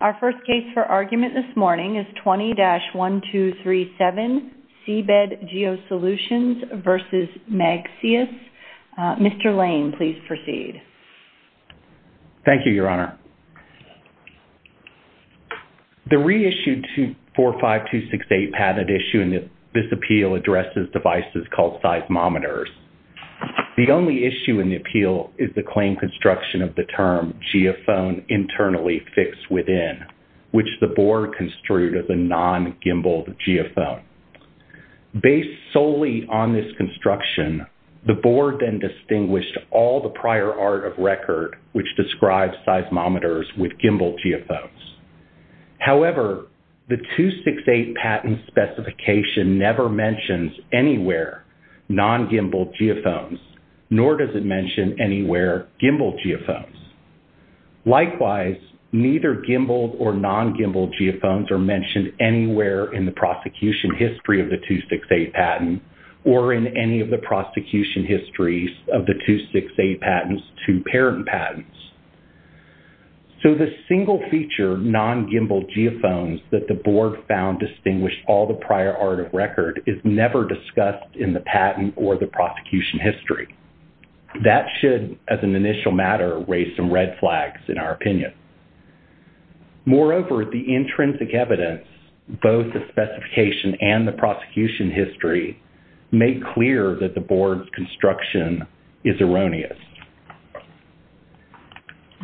Our first case for argument this morning is 20-1237 Seabed Geosolutions v. Magseis. Mr. Lane, please proceed. Thank you, Your Honor. The reissued 45268 patent issue in this appeal addresses devices called seismometers. The only issue in the appeal is the claim construction of the term geophone internally fixed within, which the board construed as a non-gimbaled geophone. Based solely on this construction, the board then distinguished all the prior art of record which describes seismometers with gimbaled geophones. However, the 268 patent specification never mentions anywhere non-gimbaled geophones, nor does it mention anywhere gimbaled geophones. Likewise, neither gimbaled or non-gimbaled geophones are mentioned anywhere in the prosecution history of the 268 patent or in any of the prosecution histories of the 268 patents to parent patents. So the single feature non-gimbaled geophones that the board found distinguished all the prior art of record is never discussed in the patent or the prosecution history. That should, as an initial matter, raise some red flags in our opinion. Moreover, the intrinsic evidence, both the specification and the prosecution history, made clear that the board's construction is erroneous.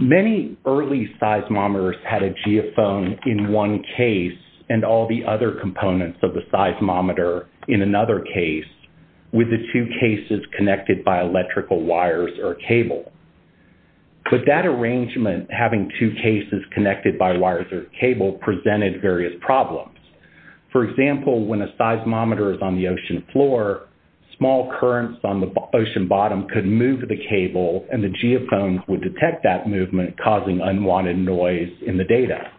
Many early seismometers had a geophone in one case and all the other components of the seismometer in another case with the two cases connected by electrical wires or cable. But that arrangement, having two cases connected by wires or cable, presented various problems. For example, when a seismometer is on the ocean floor, small currents on the ocean bottom could move the cable and the geophones would detect that movement, causing unwanted noise in the data.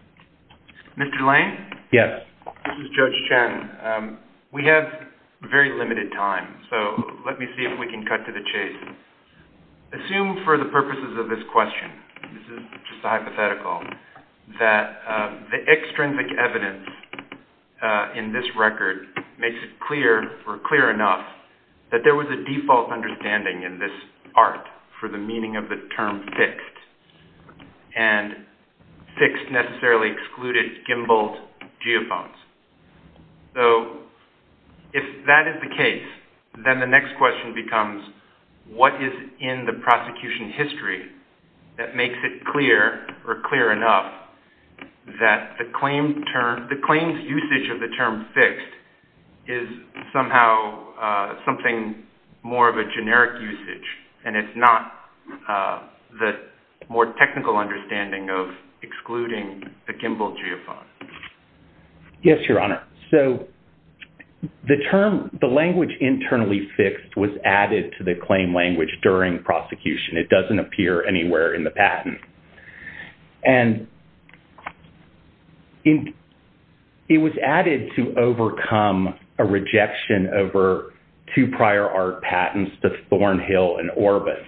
Mr. Lane? Yes. This is Judge Chen. We have very limited time, so let me see if we can cut to the chase. Assume for the purposes of this question, this is just a hypothetical, that the extrinsic evidence in this record makes it clear or clear enough that there was a default understanding in this for the meaning of the term fixed, and fixed necessarily excluded gimballed geophones. So if that is the case, then the next question becomes, what is in the prosecution history that makes it clear or clear enough that the claim's usage of the term fixed is somehow something more of a generic usage, and it's not the more technical understanding of excluding a gimballed geophone? Yes, Your Honor. So the term, the language internally fixed was added to the claim language during prosecution. It doesn't appear anywhere in the patent. And it was added to overcome a rejection over two prior art patents to Thornhill and Orbit.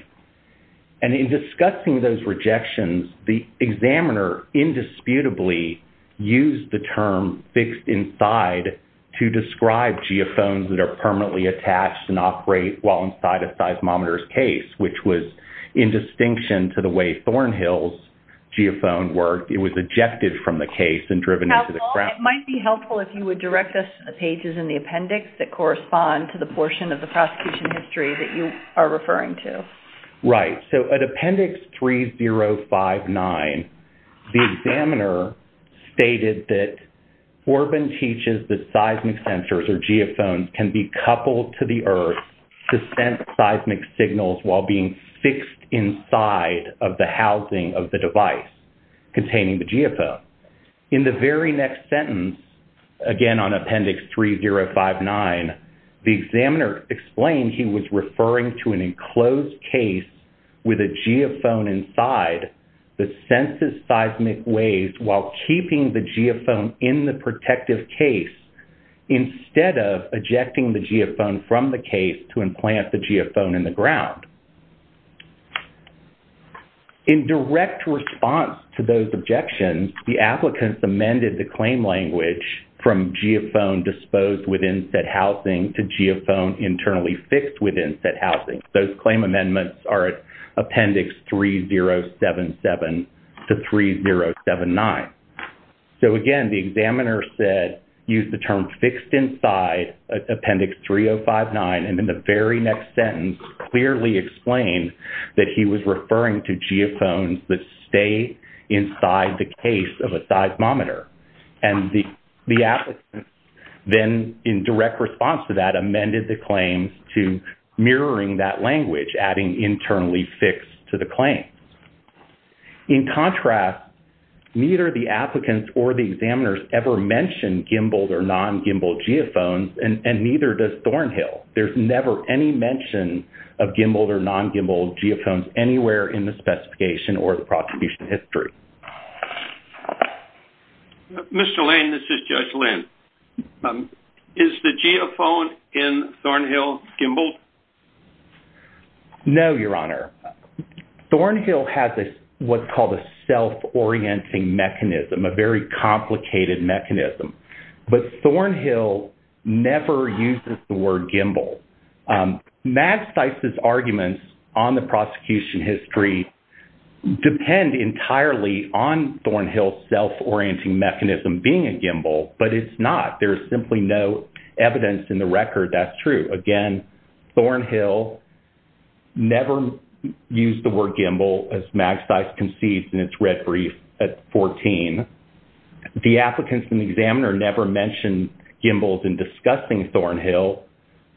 And in discussing those rejections, the examiner indisputably used the term fixed inside to describe geophones that are permanently attached and operate while inside a seismometer's in distinction to the way Thornhill's geophone worked. It was ejected from the case and driven into the ground. It might be helpful if you would direct us to the pages in the appendix that correspond to the portion of the prosecution history that you are referring to. Right. So at Appendix 3059, the examiner stated that Orbit teaches that seismic sensors or fixed inside of the housing of the device containing the geophone. In the very next sentence, again on Appendix 3059, the examiner explained he was referring to an enclosed case with a geophone inside that senses seismic waves while keeping the geophone in the protective case instead of ejecting the geophone from the case to implant the geophone in the case. In direct response to those objections, the applicants amended the claim language from geophone disposed within said housing to geophone internally fixed within said housing. Those claim amendments are Appendix 3077 to 3079. So again, the examiner said, used the that he was referring to geophones that stay inside the case of a seismometer. And the applicant then, in direct response to that, amended the claims to mirroring that language, adding internally fixed to the claim. In contrast, neither the applicants or the examiners ever mentioned gimbaled or non-gimbaled geophones, and neither does Thornhill. There's never any mention of gimbaled or non-gimbaled geophones anywhere in the specification or the prosecution history. Mr. Lane, this is Judge Lane. Is the geophone in Thornhill gimbaled? No, Your Honor. Thornhill has what's called a self-orienting mechanism, a very complicated mechanism, but Thornhill never uses the word gimbal. Magsys' arguments on the prosecution history depend entirely on Thornhill's self-orienting mechanism being a gimbal, but it's not. There's simply no evidence in the record that's true. Again, Thornhill never used the word gimbal, as Magsys concedes in its red brief at 14. The applicants and the examiner never mentioned gimbals in discussing Thornhill.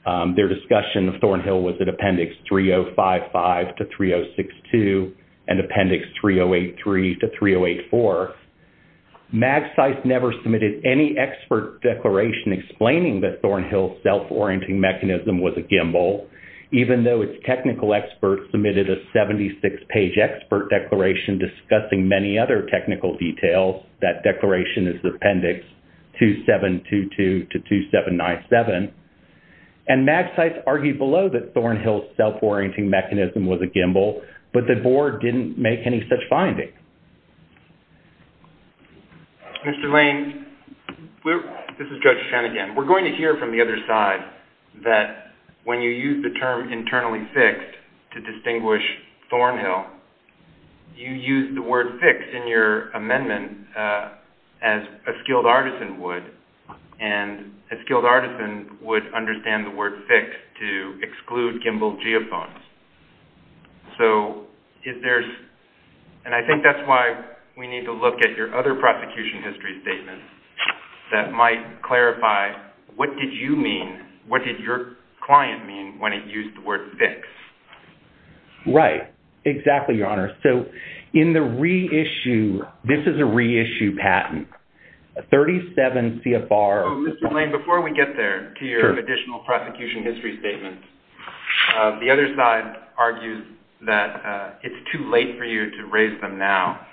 Their discussion of Thornhill was at Appendix 3055 to 3062 and Appendix 3083 to 3084. Magsys never submitted any expert declaration explaining that Thornhill's self-orienting mechanism was a gimbal, even though its technical experts submitted a 76-page expert declaration discussing many other technical details. That declaration is the Appendix 2722 to 2797, and Magsys argued below that Thornhill's self-orienting mechanism was a gimbal, but the board didn't make any such findings. Mr. Lane, this is Judge Shen again. We're going to hear from the other side that when you use the term internally fixed to distinguish Thornhill, you use the word fixed in your amendment as a skilled artisan would, and a skilled artisan would understand the word fixed to exclude gimbal geophones. And I think that's why we need to look at your other prosecution history statement that might clarify what did you mean, what did your client mean when it used the word fixed? Right. Exactly, Your Honor. So in the reissue, this is a reissue patent, a 37 CFR- Oh, Mr. Lane, before we get there to your additional prosecution history statement, the other side argues that it's too late for you to raise them now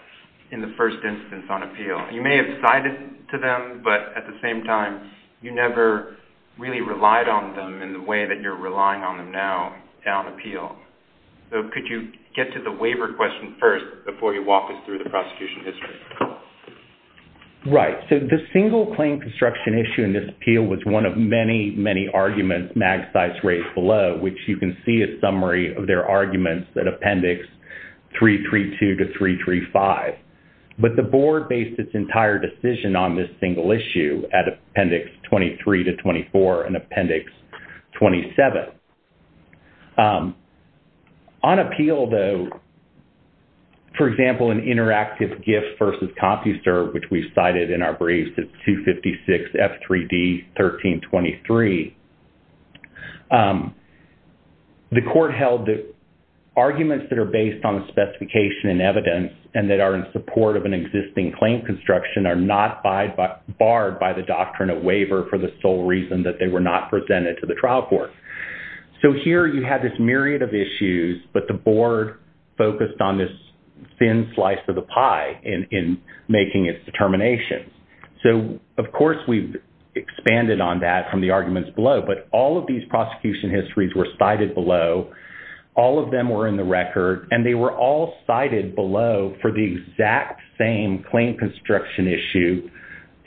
in the first instance on appeal. You may have cited to them, but at the same time, you never really relied on them in the way that you're relying on them now on appeal. So could you get to the waiver question first before you walk us through the prosecution history? Right. So the single claim construction issue in this appeal was one of many, many arguments Magsci's raised below, which you can see a summary of their arguments that appendix 332 to 335, but the board based its entire decision on this single issue at appendix 23 to 24 and appendix 27. On appeal though, for example, an interactive gift versus copy serve, which we've cited in our briefs, it's 256 F3D 1323. The court held that arguments that are based on the specification and evidence and that are in an existing claim construction are not barred by the doctrine of waiver for the sole reason that they were not presented to the trial court. So here you have this myriad of issues, but the board focused on this thin slice of the pie in making its determination. So, of course, we've expanded on that from the arguments below, but all of these prosecution histories were cited below. All of them were in the record, and they were all cited below for the exact same claim construction issue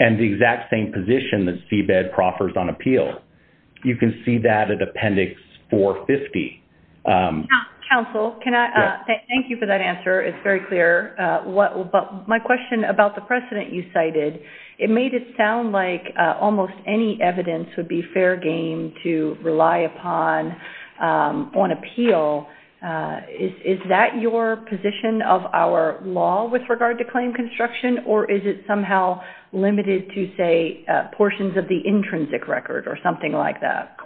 and the exact same position that CBED proffers on appeal. You can see that at appendix 450. Counsel, thank you for that answer. It's very clear. My question about the precedent you cited, it made it sound like almost any evidence would be fair game to rely upon on appeal. Is that your position of our law with regard to claim construction, or is it somehow limited to, say, portions of the intrinsic record or something like that?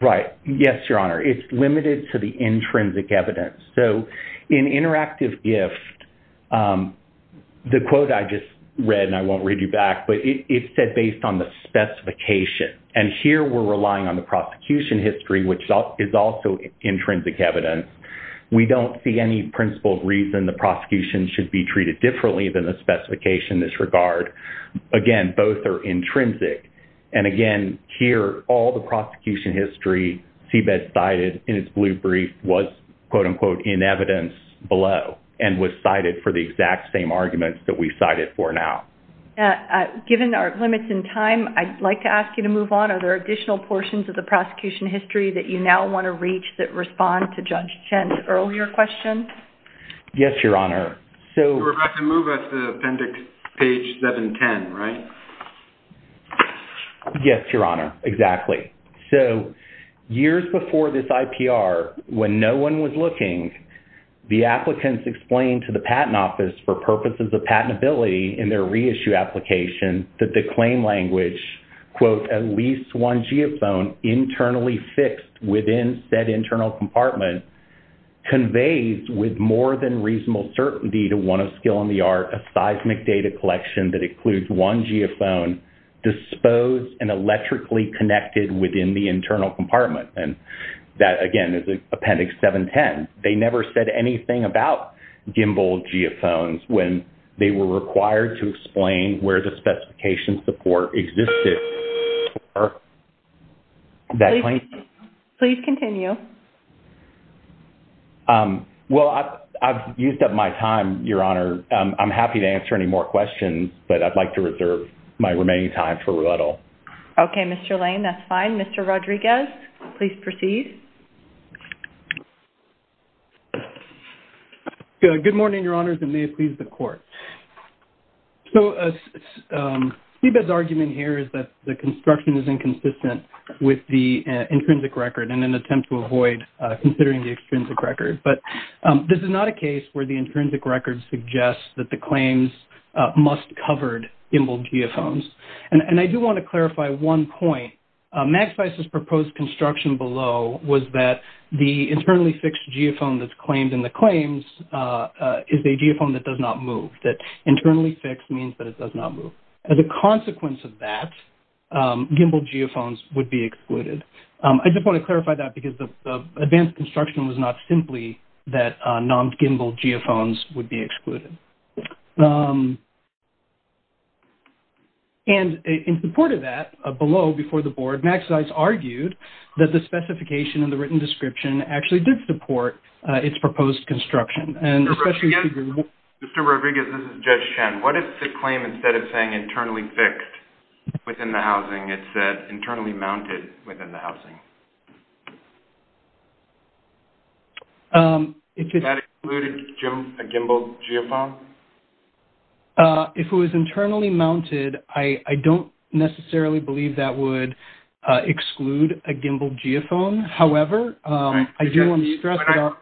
Right. Yes, Your Honor. It's limited to the intrinsic evidence. So in interactive gift, the quote I just read, and I won't read you back, but it's said based on the specification. And here we're relying on the prosecution history, which is also intrinsic evidence. We don't see any principled reason the prosecution should be treated differently than the specification in this regard. Again, both are intrinsic. And again, here, all the prosecution history CBED cited in its blue brief was, quote unquote, in evidence below and was cited for the exact same arguments that we cited for now. Given our limits in time, I'd like to ask you to move on. Are there additional portions of the prosecution history that you now want to reach that respond to Judge Chen's earlier question? Yes, Your Honor. So we're about to move us to appendix page 710, right? Yes, Your Honor. Exactly. So years before this IPR, when no one was looking, the applicants explained to the patent office for purposes of patentability in their reissue application that the claim language, quote, at least one geophone internally fixed within said internal compartment, conveys with more than reasonable certainty to one of skill in the art a seismic data collection that includes one geophone disposed and electrically connected within the internal compartment. And that, again, is appendix 710. They never said anything about gimbal geophones when they were required to explain where the specification support existed for that claim. Please continue. Well, I've used up my time, Your Honor. I'm happy to answer any more questions, but I'd like to reserve my remaining time for rebuttal. Okay, Mr. Lane. That's fine. Mr. Rodriguez, please proceed. Good morning, Your Honors. It may please the Court. So Steve's argument here is that the construction is inconsistent with the intrinsic record in an attempt to avoid considering the extrinsic record. But this is not a case where the intrinsic record suggests that the claims must covered gimbal geophones. And I do want to clarify one point. Maxweiss' proposed construction below was that the internally fixed geophone that's claimed in the claims is a geophone that does not move, that internally fixed means that it does not move. As a consequence of that, gimbal geophones would be excluded. I just want to clarify that because the advanced construction was not simply that non-gimbal geophones would be excluded. And in support of that, below before the Board, Maxweiss argued that the specification and the written description actually did support its proposed construction. Mr. Rodriguez, this is Judge Shen. What if the claim instead of saying internally fixed within the housing, it said internally mounted within the housing? Would that exclude a gimbal geophone? If it was internally mounted, I don't necessarily believe that would exclude a gimbal geophone. However, I do want to stress that...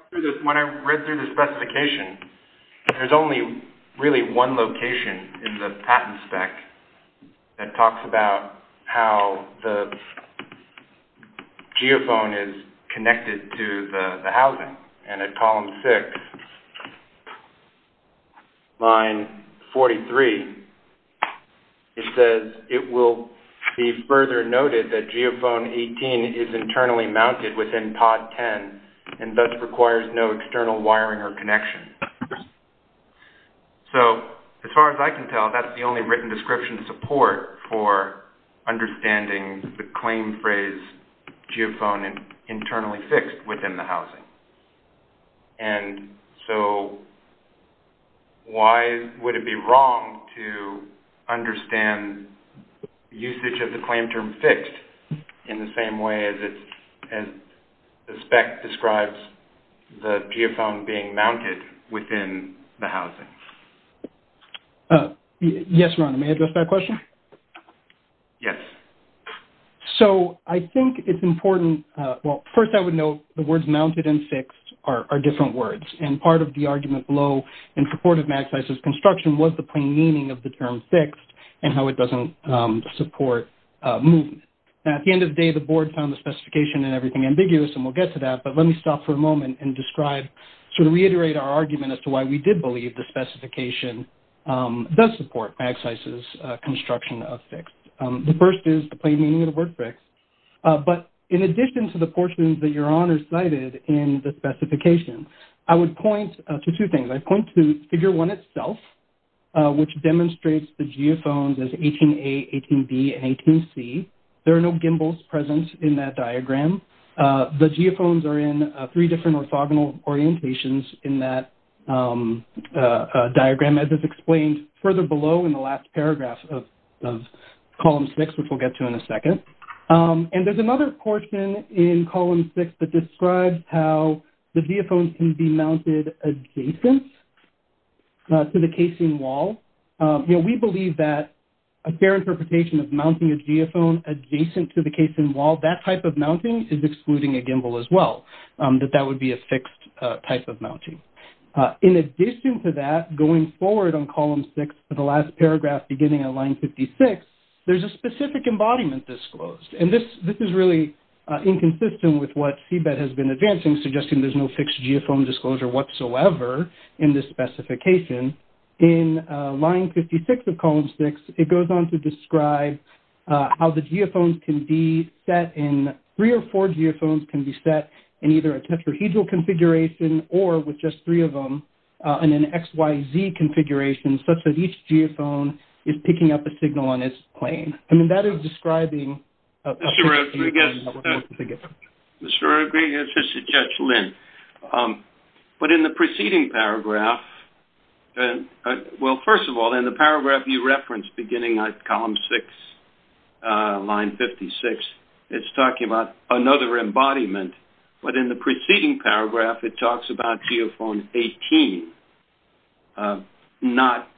When I read through the specification, there's only really one location in the patent spec that talks about how the geophone is connected to the housing. And at column six, line 43, it says, it will be further noted that geophone 18 is internally mounted within pod 10 and thus requires no external wiring or connection. So, as far as I can tell, that's the only written description support for understanding the claim phrase geophone internally fixed within the housing. And so, why would it be wrong to understand usage of the claim term fixed in the same way as the spec describes the geophone being mounted within the housing? Yes, Rhonda. May I address that question? Yes. So, I think it's important... Well, first, I would note the words mounted and fixed are different words. And part of the argument below in support of MAXIS's construction was the plain meaning of the term fixed and how it doesn't support movement. Now, at the end of the day, the board found the specification and everything ambiguous, and we'll get to that. But let me stop for a moment and describe, sort of reiterate our argument as to why we did believe the specification does support MAXIS's construction of fixed. The first is the plain meaning of the word fixed. But in addition to the portions that Your Honor cited in the specification, I would point to two things. I'd point to Figure 1 itself, which demonstrates the geophones as 18A, 18B, and 18C. There are no gimbals present in that diagram. The geophones are in three different orthogonal orientations in that diagram, as is explained further below in the last paragraph of Column 6, which we'll get to in a second. And there's another portion in Column 6 that describes how the geophones can be mounted adjacent to the casing wall. You know, we believe that a fair interpretation of mounting a geophone adjacent to the casing wall, that type of mounting is excluding a gimbal as well, that that would be a fixed type of mounting. In addition to that, going forward on Column 6, the last paragraph beginning on Line 56, there's a specific embodiment disclosed. And this is really inconsistent with what CBET has been advancing, suggesting there's no fixed geophone disclosure whatsoever in this specification. In Line 56 of Column 6, it goes on to describe how the geophones can be set in- three or four geophones can be set in either a tetrahedral configuration, or with just three of them, in an XYZ configuration, such that each geophone is picking up a signal on its plane. And that is describing- Mr. Rodriguez, this is Judge Lynn. But in the preceding paragraph- well, first of all, in the paragraph you referenced beginning on Column 6, Line 56, it's talking about another embodiment. But in the preceding paragraph, it talks about geophone 18, not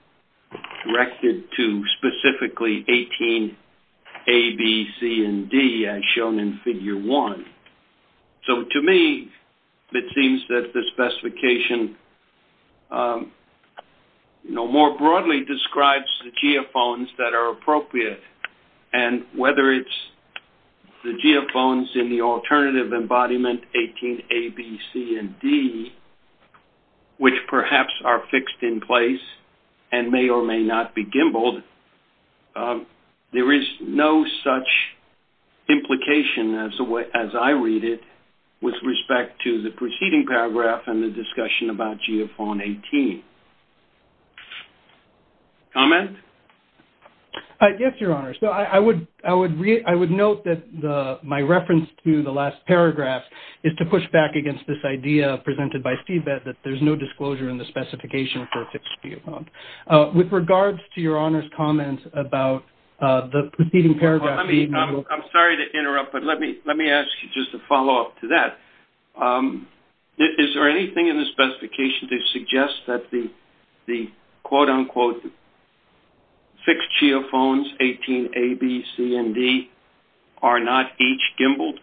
directed to specifically 18A, B, C, and D, as shown in Figure 1. So, to me, it seems that the specification, you know, more broadly describes the geophones that are appropriate. And whether it's the geophones in the alternative embodiment, 18A, B, C, and D, which perhaps are fixed in place and may or may not be gimbled, there is no such implication as I read it with respect to the preceding paragraph and the discussion about geophone 18. Comment? Yes, Your Honor. So, I would note that my reference to the last paragraph is to push back against this disclosure in the specification for a fixed geophone. With regards to Your Honor's comment about the preceding paragraph- Let me- I'm sorry to interrupt, but let me ask you just a follow-up to that. Is there anything in the specification that suggests that the quote-unquote fixed geophones, 18A, B, C, and D, are not each gimbled?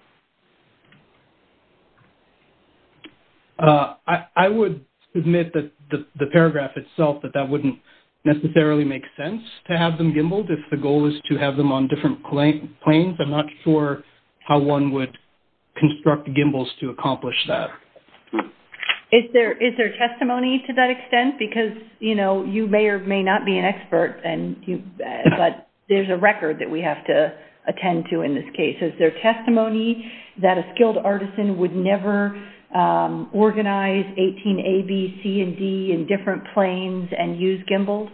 I would admit that the paragraph itself, that that wouldn't necessarily make sense to have them gimbled if the goal is to have them on different planes. I'm not sure how one would construct gimbals to accomplish that. Is there testimony to that extent? Because, you know, you may or may not be an expert, but there's a record that we have to Is there testimony to that? That a skilled artisan would never organize 18A, B, C, and D in different planes and use gimbals?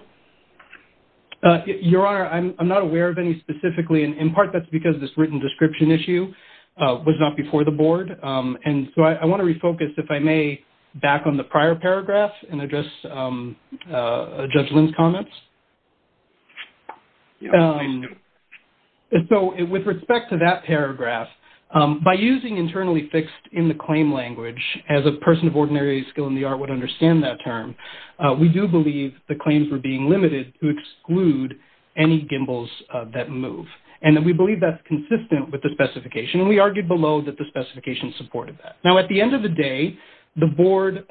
Your Honor, I'm not aware of any specifically. And in part, that's because this written description issue was not before the Board. And so, I want to refocus, if I may, back on the prior paragraph and address Judge Lynn's comments. Your Honor, please do. So, with respect to that paragraph, by using internally fixed in the claim language, as a person of ordinary skill in the art would understand that term, we do believe the claims were being limited to exclude any gimbals that move. And we believe that's consistent with the specification. And we argued below that the specification supported that. Now, at the end of the day, the Board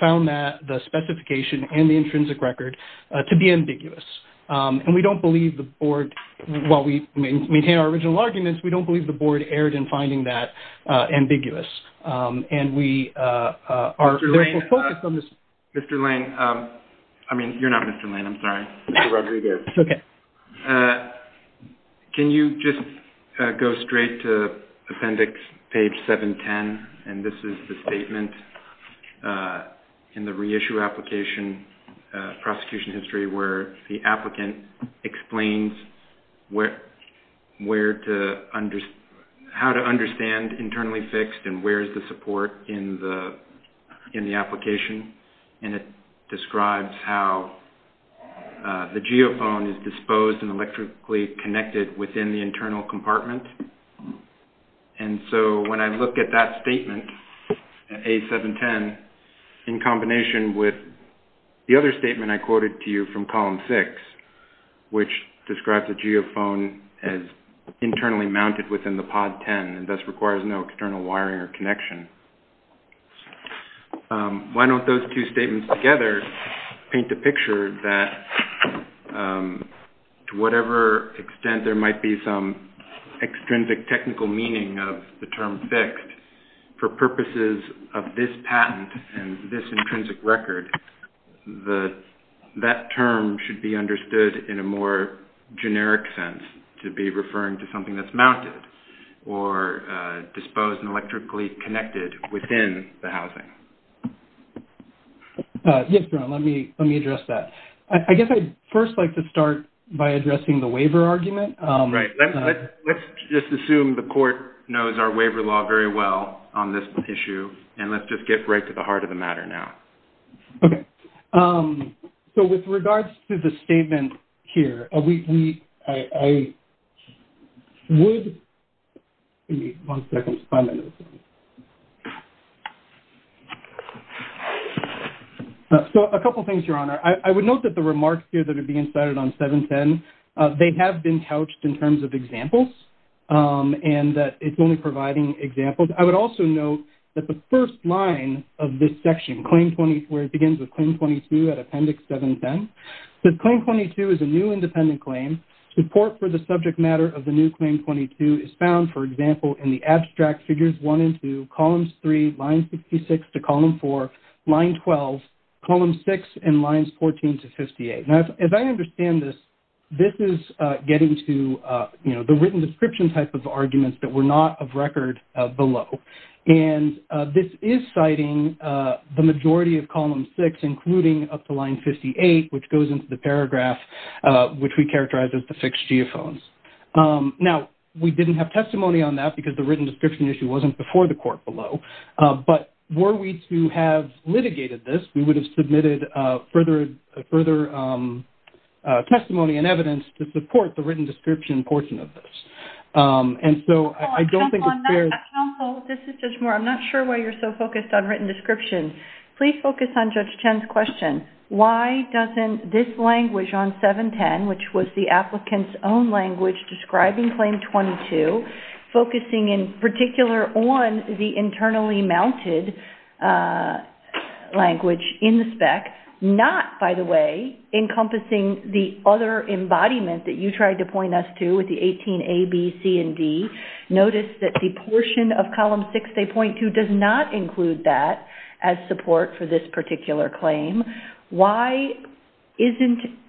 found that the specification and the intrinsic record to be ambiguous. And we don't believe the Board, while we maintain our original arguments, we don't believe the Board erred in finding that ambiguous. And we are focused on this. Mr. Lane. I mean, you're not Mr. Lane, I'm sorry. Mr. Rodriguez. Okay. Can you just go straight to appendix page 710? And this is the statement in the reissue application prosecution history, where the applicant explains how to understand internally fixed and where is the support in the application. And it describes how the geophone is disposed and electrically connected within the internal compartment. And so when I look at that statement, A710, in combination with the other statement I quoted to you from column six, which describes a geophone as internally mounted within the pod 10 and thus requires no external wiring or connection. Why don't those two statements together paint a picture that to whatever extent there might be extrinsic technical meaning of the term fixed, for purposes of this patent and this intrinsic record, that term should be understood in a more generic sense to be referring to something that's mounted or disposed and electrically connected within the housing. Yes, Ron, let me address that. I guess I'd first like to start by addressing the waiver argument. Right. Let's just assume the court knows our waiver law very well on this issue. And let's just get right to the heart of the matter now. Okay. So with regards to the statement here, I would... Give me one second. So a couple of things, Your Honor. I would note that the remarks here that are being cited on 710, they have been couched in terms of examples and that it's only providing examples. I would also note that the first line of this section, Claim 22, where it begins with Claim 22 at Appendix 710, that Claim 22 is a new independent claim. Support for the subject matter of the new Claim 22 is found, for example, in the abstract figures one and two, columns three, lines 66 to column four, line 12, column six, and lines 14 to 58. As I understand this, this is getting to, you know, the written description type of arguments that were not of record below. And this is citing the majority of column six, including up to line 58, which goes into the paragraph, which we characterize as the fixed geophones. Now, we didn't have testimony on that because the written description issue wasn't before the court below. But were we to have litigated this, we would have submitted further testimony and evidence to support the written description portion of this. And so I don't think it's fair... Counsel, this is Judge Moore. I'm not sure why you're so focused on written description. Please focus on Judge Chen's question. Why doesn't this language on 710, which was the applicant's own language describing Claim 22, focusing in particular on the internally mounted language in the spec, not, by the way, encompassing the other embodiment that you tried to point us to with the 18A, B, C, and D, notice that the portion of column six, they point to, does not include that as support for this particular claim. Why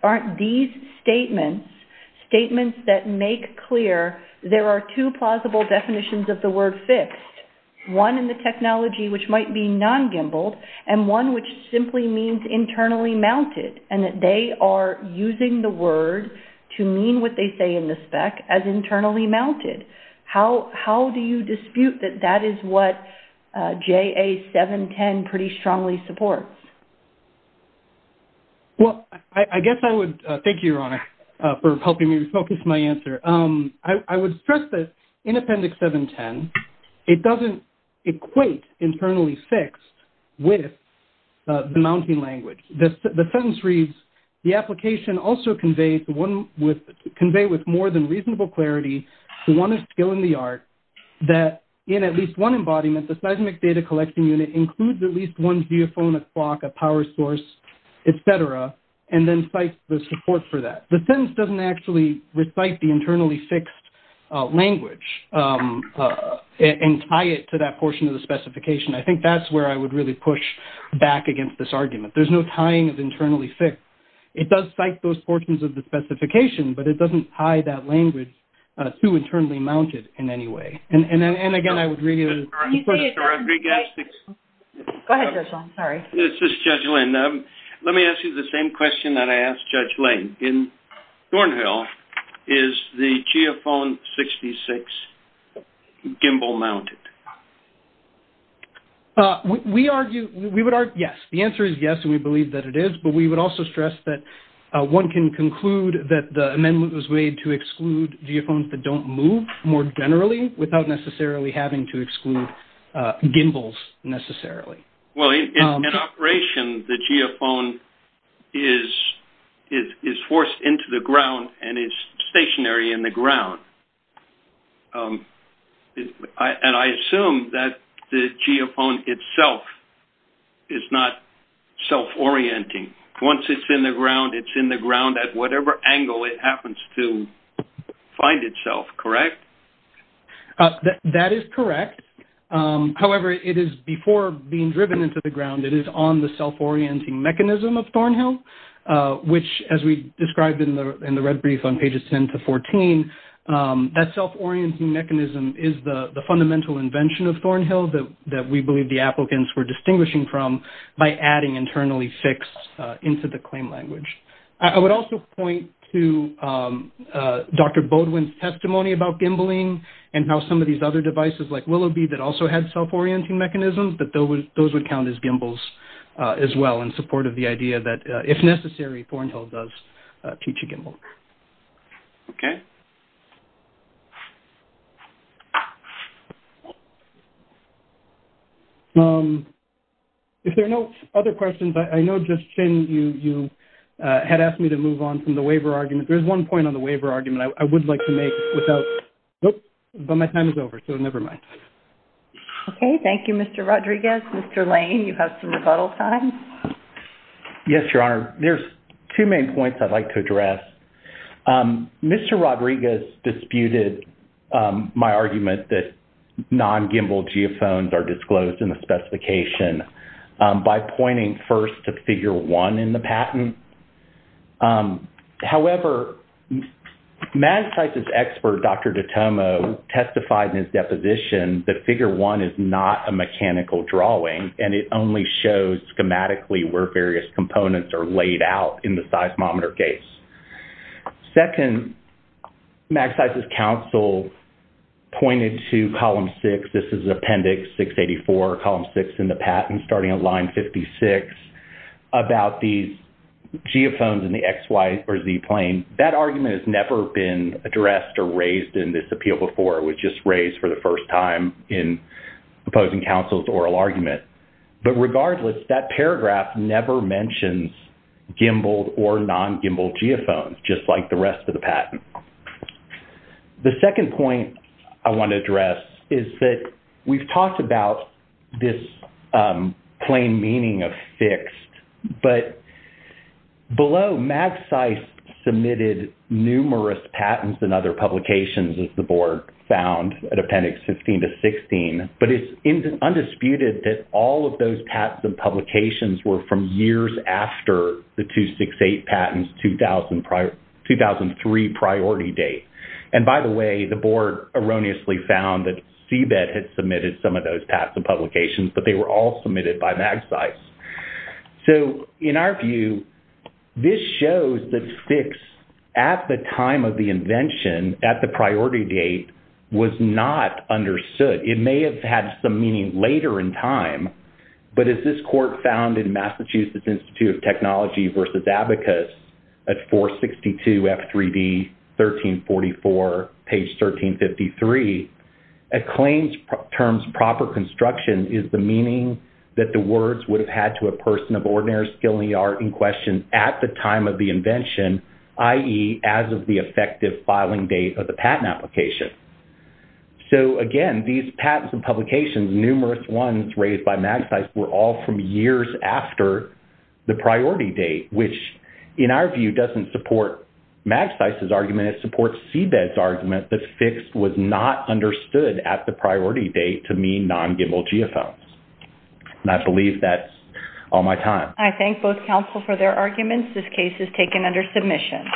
aren't these statements, statements that make clear there are two plausible definitions of the word fixed, one in the technology, which might be non-GIMBLED, and one which simply means internally mounted, and that they are using the word to mean what they say in the spec as internally mounted? How do you dispute that that is what JA 710 pretty strongly supports? Well, I guess I would... Thank you, Your Honor, for helping me focus my answer. I would stress that in Appendix 710, it doesn't equate internally fixed with the mounting language. The sentence reads, the application also conveys one with... convey with more than reasonable clarity the one of skill in the art that in at least one embodiment, the seismic data collection unit includes at least one geophone, a clock, a source, et cetera, and then cites the support for that. The sentence doesn't actually recite the internally fixed language and tie it to that portion of the specification. I think that's where I would really push back against this argument. There's no tying of internally fixed. It does cite those portions of the specification, but it doesn't tie that language to internally mounted in any way. And then, again, I would read it as... Go ahead, Judge Long. Sorry. This is Judge Lane. Let me ask you the same question that I asked Judge Lane. In Thornhill, is the geophone 66 gimbal mounted? We argue... We would argue yes. The answer is yes, and we believe that it is. But we would also stress that one can conclude that the amendment was made to exclude geophones that don't move more generally without necessarily having to exclude gimbals necessarily. Well, in operation, the geophone is forced into the ground and is stationary in the ground. And I assume that the geophone itself is not self-orienting. Once it's in the ground, it's in the ground at whatever angle it happens to find itself, correct? That is correct. However, it is before being driven into the ground, it is on the self-orienting mechanism of Thornhill, which as we described in the red brief on pages 10 to 14, that self-orienting mechanism is the fundamental invention of Thornhill that we believe the applicants were distinguishing from by adding internally fixed into the claim language. I would also point to Dr. Boudwin's testimony about gimbling and how some of these other also had self-orienting mechanisms, but those would count as gimbals as well in support of the idea that if necessary, Thornhill does teach a gimbal. Okay. If there are no other questions, I know, Justine, you had asked me to move on from the waiver argument. There's one point on the waiver argument I would like to make without... Nope, but my time is over, so never mind. Okay. Thank you, Mr. Rodriguez. Mr. Lane, you have some rebuttal time. Yes, Your Honor. There's two main points I'd like to address. Mr. Rodriguez disputed my argument that non-gimbal geophones are disclosed in the specification by pointing first to figure one in the patent. However, MAGCYSE's expert, Dr. Dottomo, testified in his deposition that figure one is not a mechanical drawing and it only shows schematically where various components are laid out in the seismometer case. Second, MAGCYSE's counsel pointed to column six, this is appendix 684, column six in the geophones in the X, Y, or Z plane. That argument has never been addressed or raised in this appeal before. It was just raised for the first time in opposing counsel's oral argument. But regardless, that paragraph never mentions gimbaled or non-gimbaled geophones, just like the rest of the patent. The second point I want to address is that we've talked about this plain meaning of below MAGCYSE submitted numerous patents and other publications as the board found at appendix 15 to 16, but it's undisputed that all of those patents and publications were from years after the 268 patents 2003 priority date. And by the way, the board erroneously found that CBET had submitted some of those patents and publications, but they were all submitted by MAGCYSE. So in our view, this shows that six at the time of the invention at the priority date was not understood. It may have had some meaning later in time, but as this court found in Massachusetts Institute of Technology versus Abacus at 462 F3D, 1344, page 1353, a claim's terms is the meaning that the words would have had to a person of ordinary skill and art in question at the time of the invention, i.e., as of the effective filing date of the patent application. So again, these patents and publications, numerous ones raised by MAGCYSE were all from years after the priority date, which in our view doesn't support MAGCYSE's argument. It supports CBET's argument that fixed was not understood at the priority date to mean non-gimbal geophones, and I believe that's all my time. I thank both counsel for their arguments. This case is taken under submission.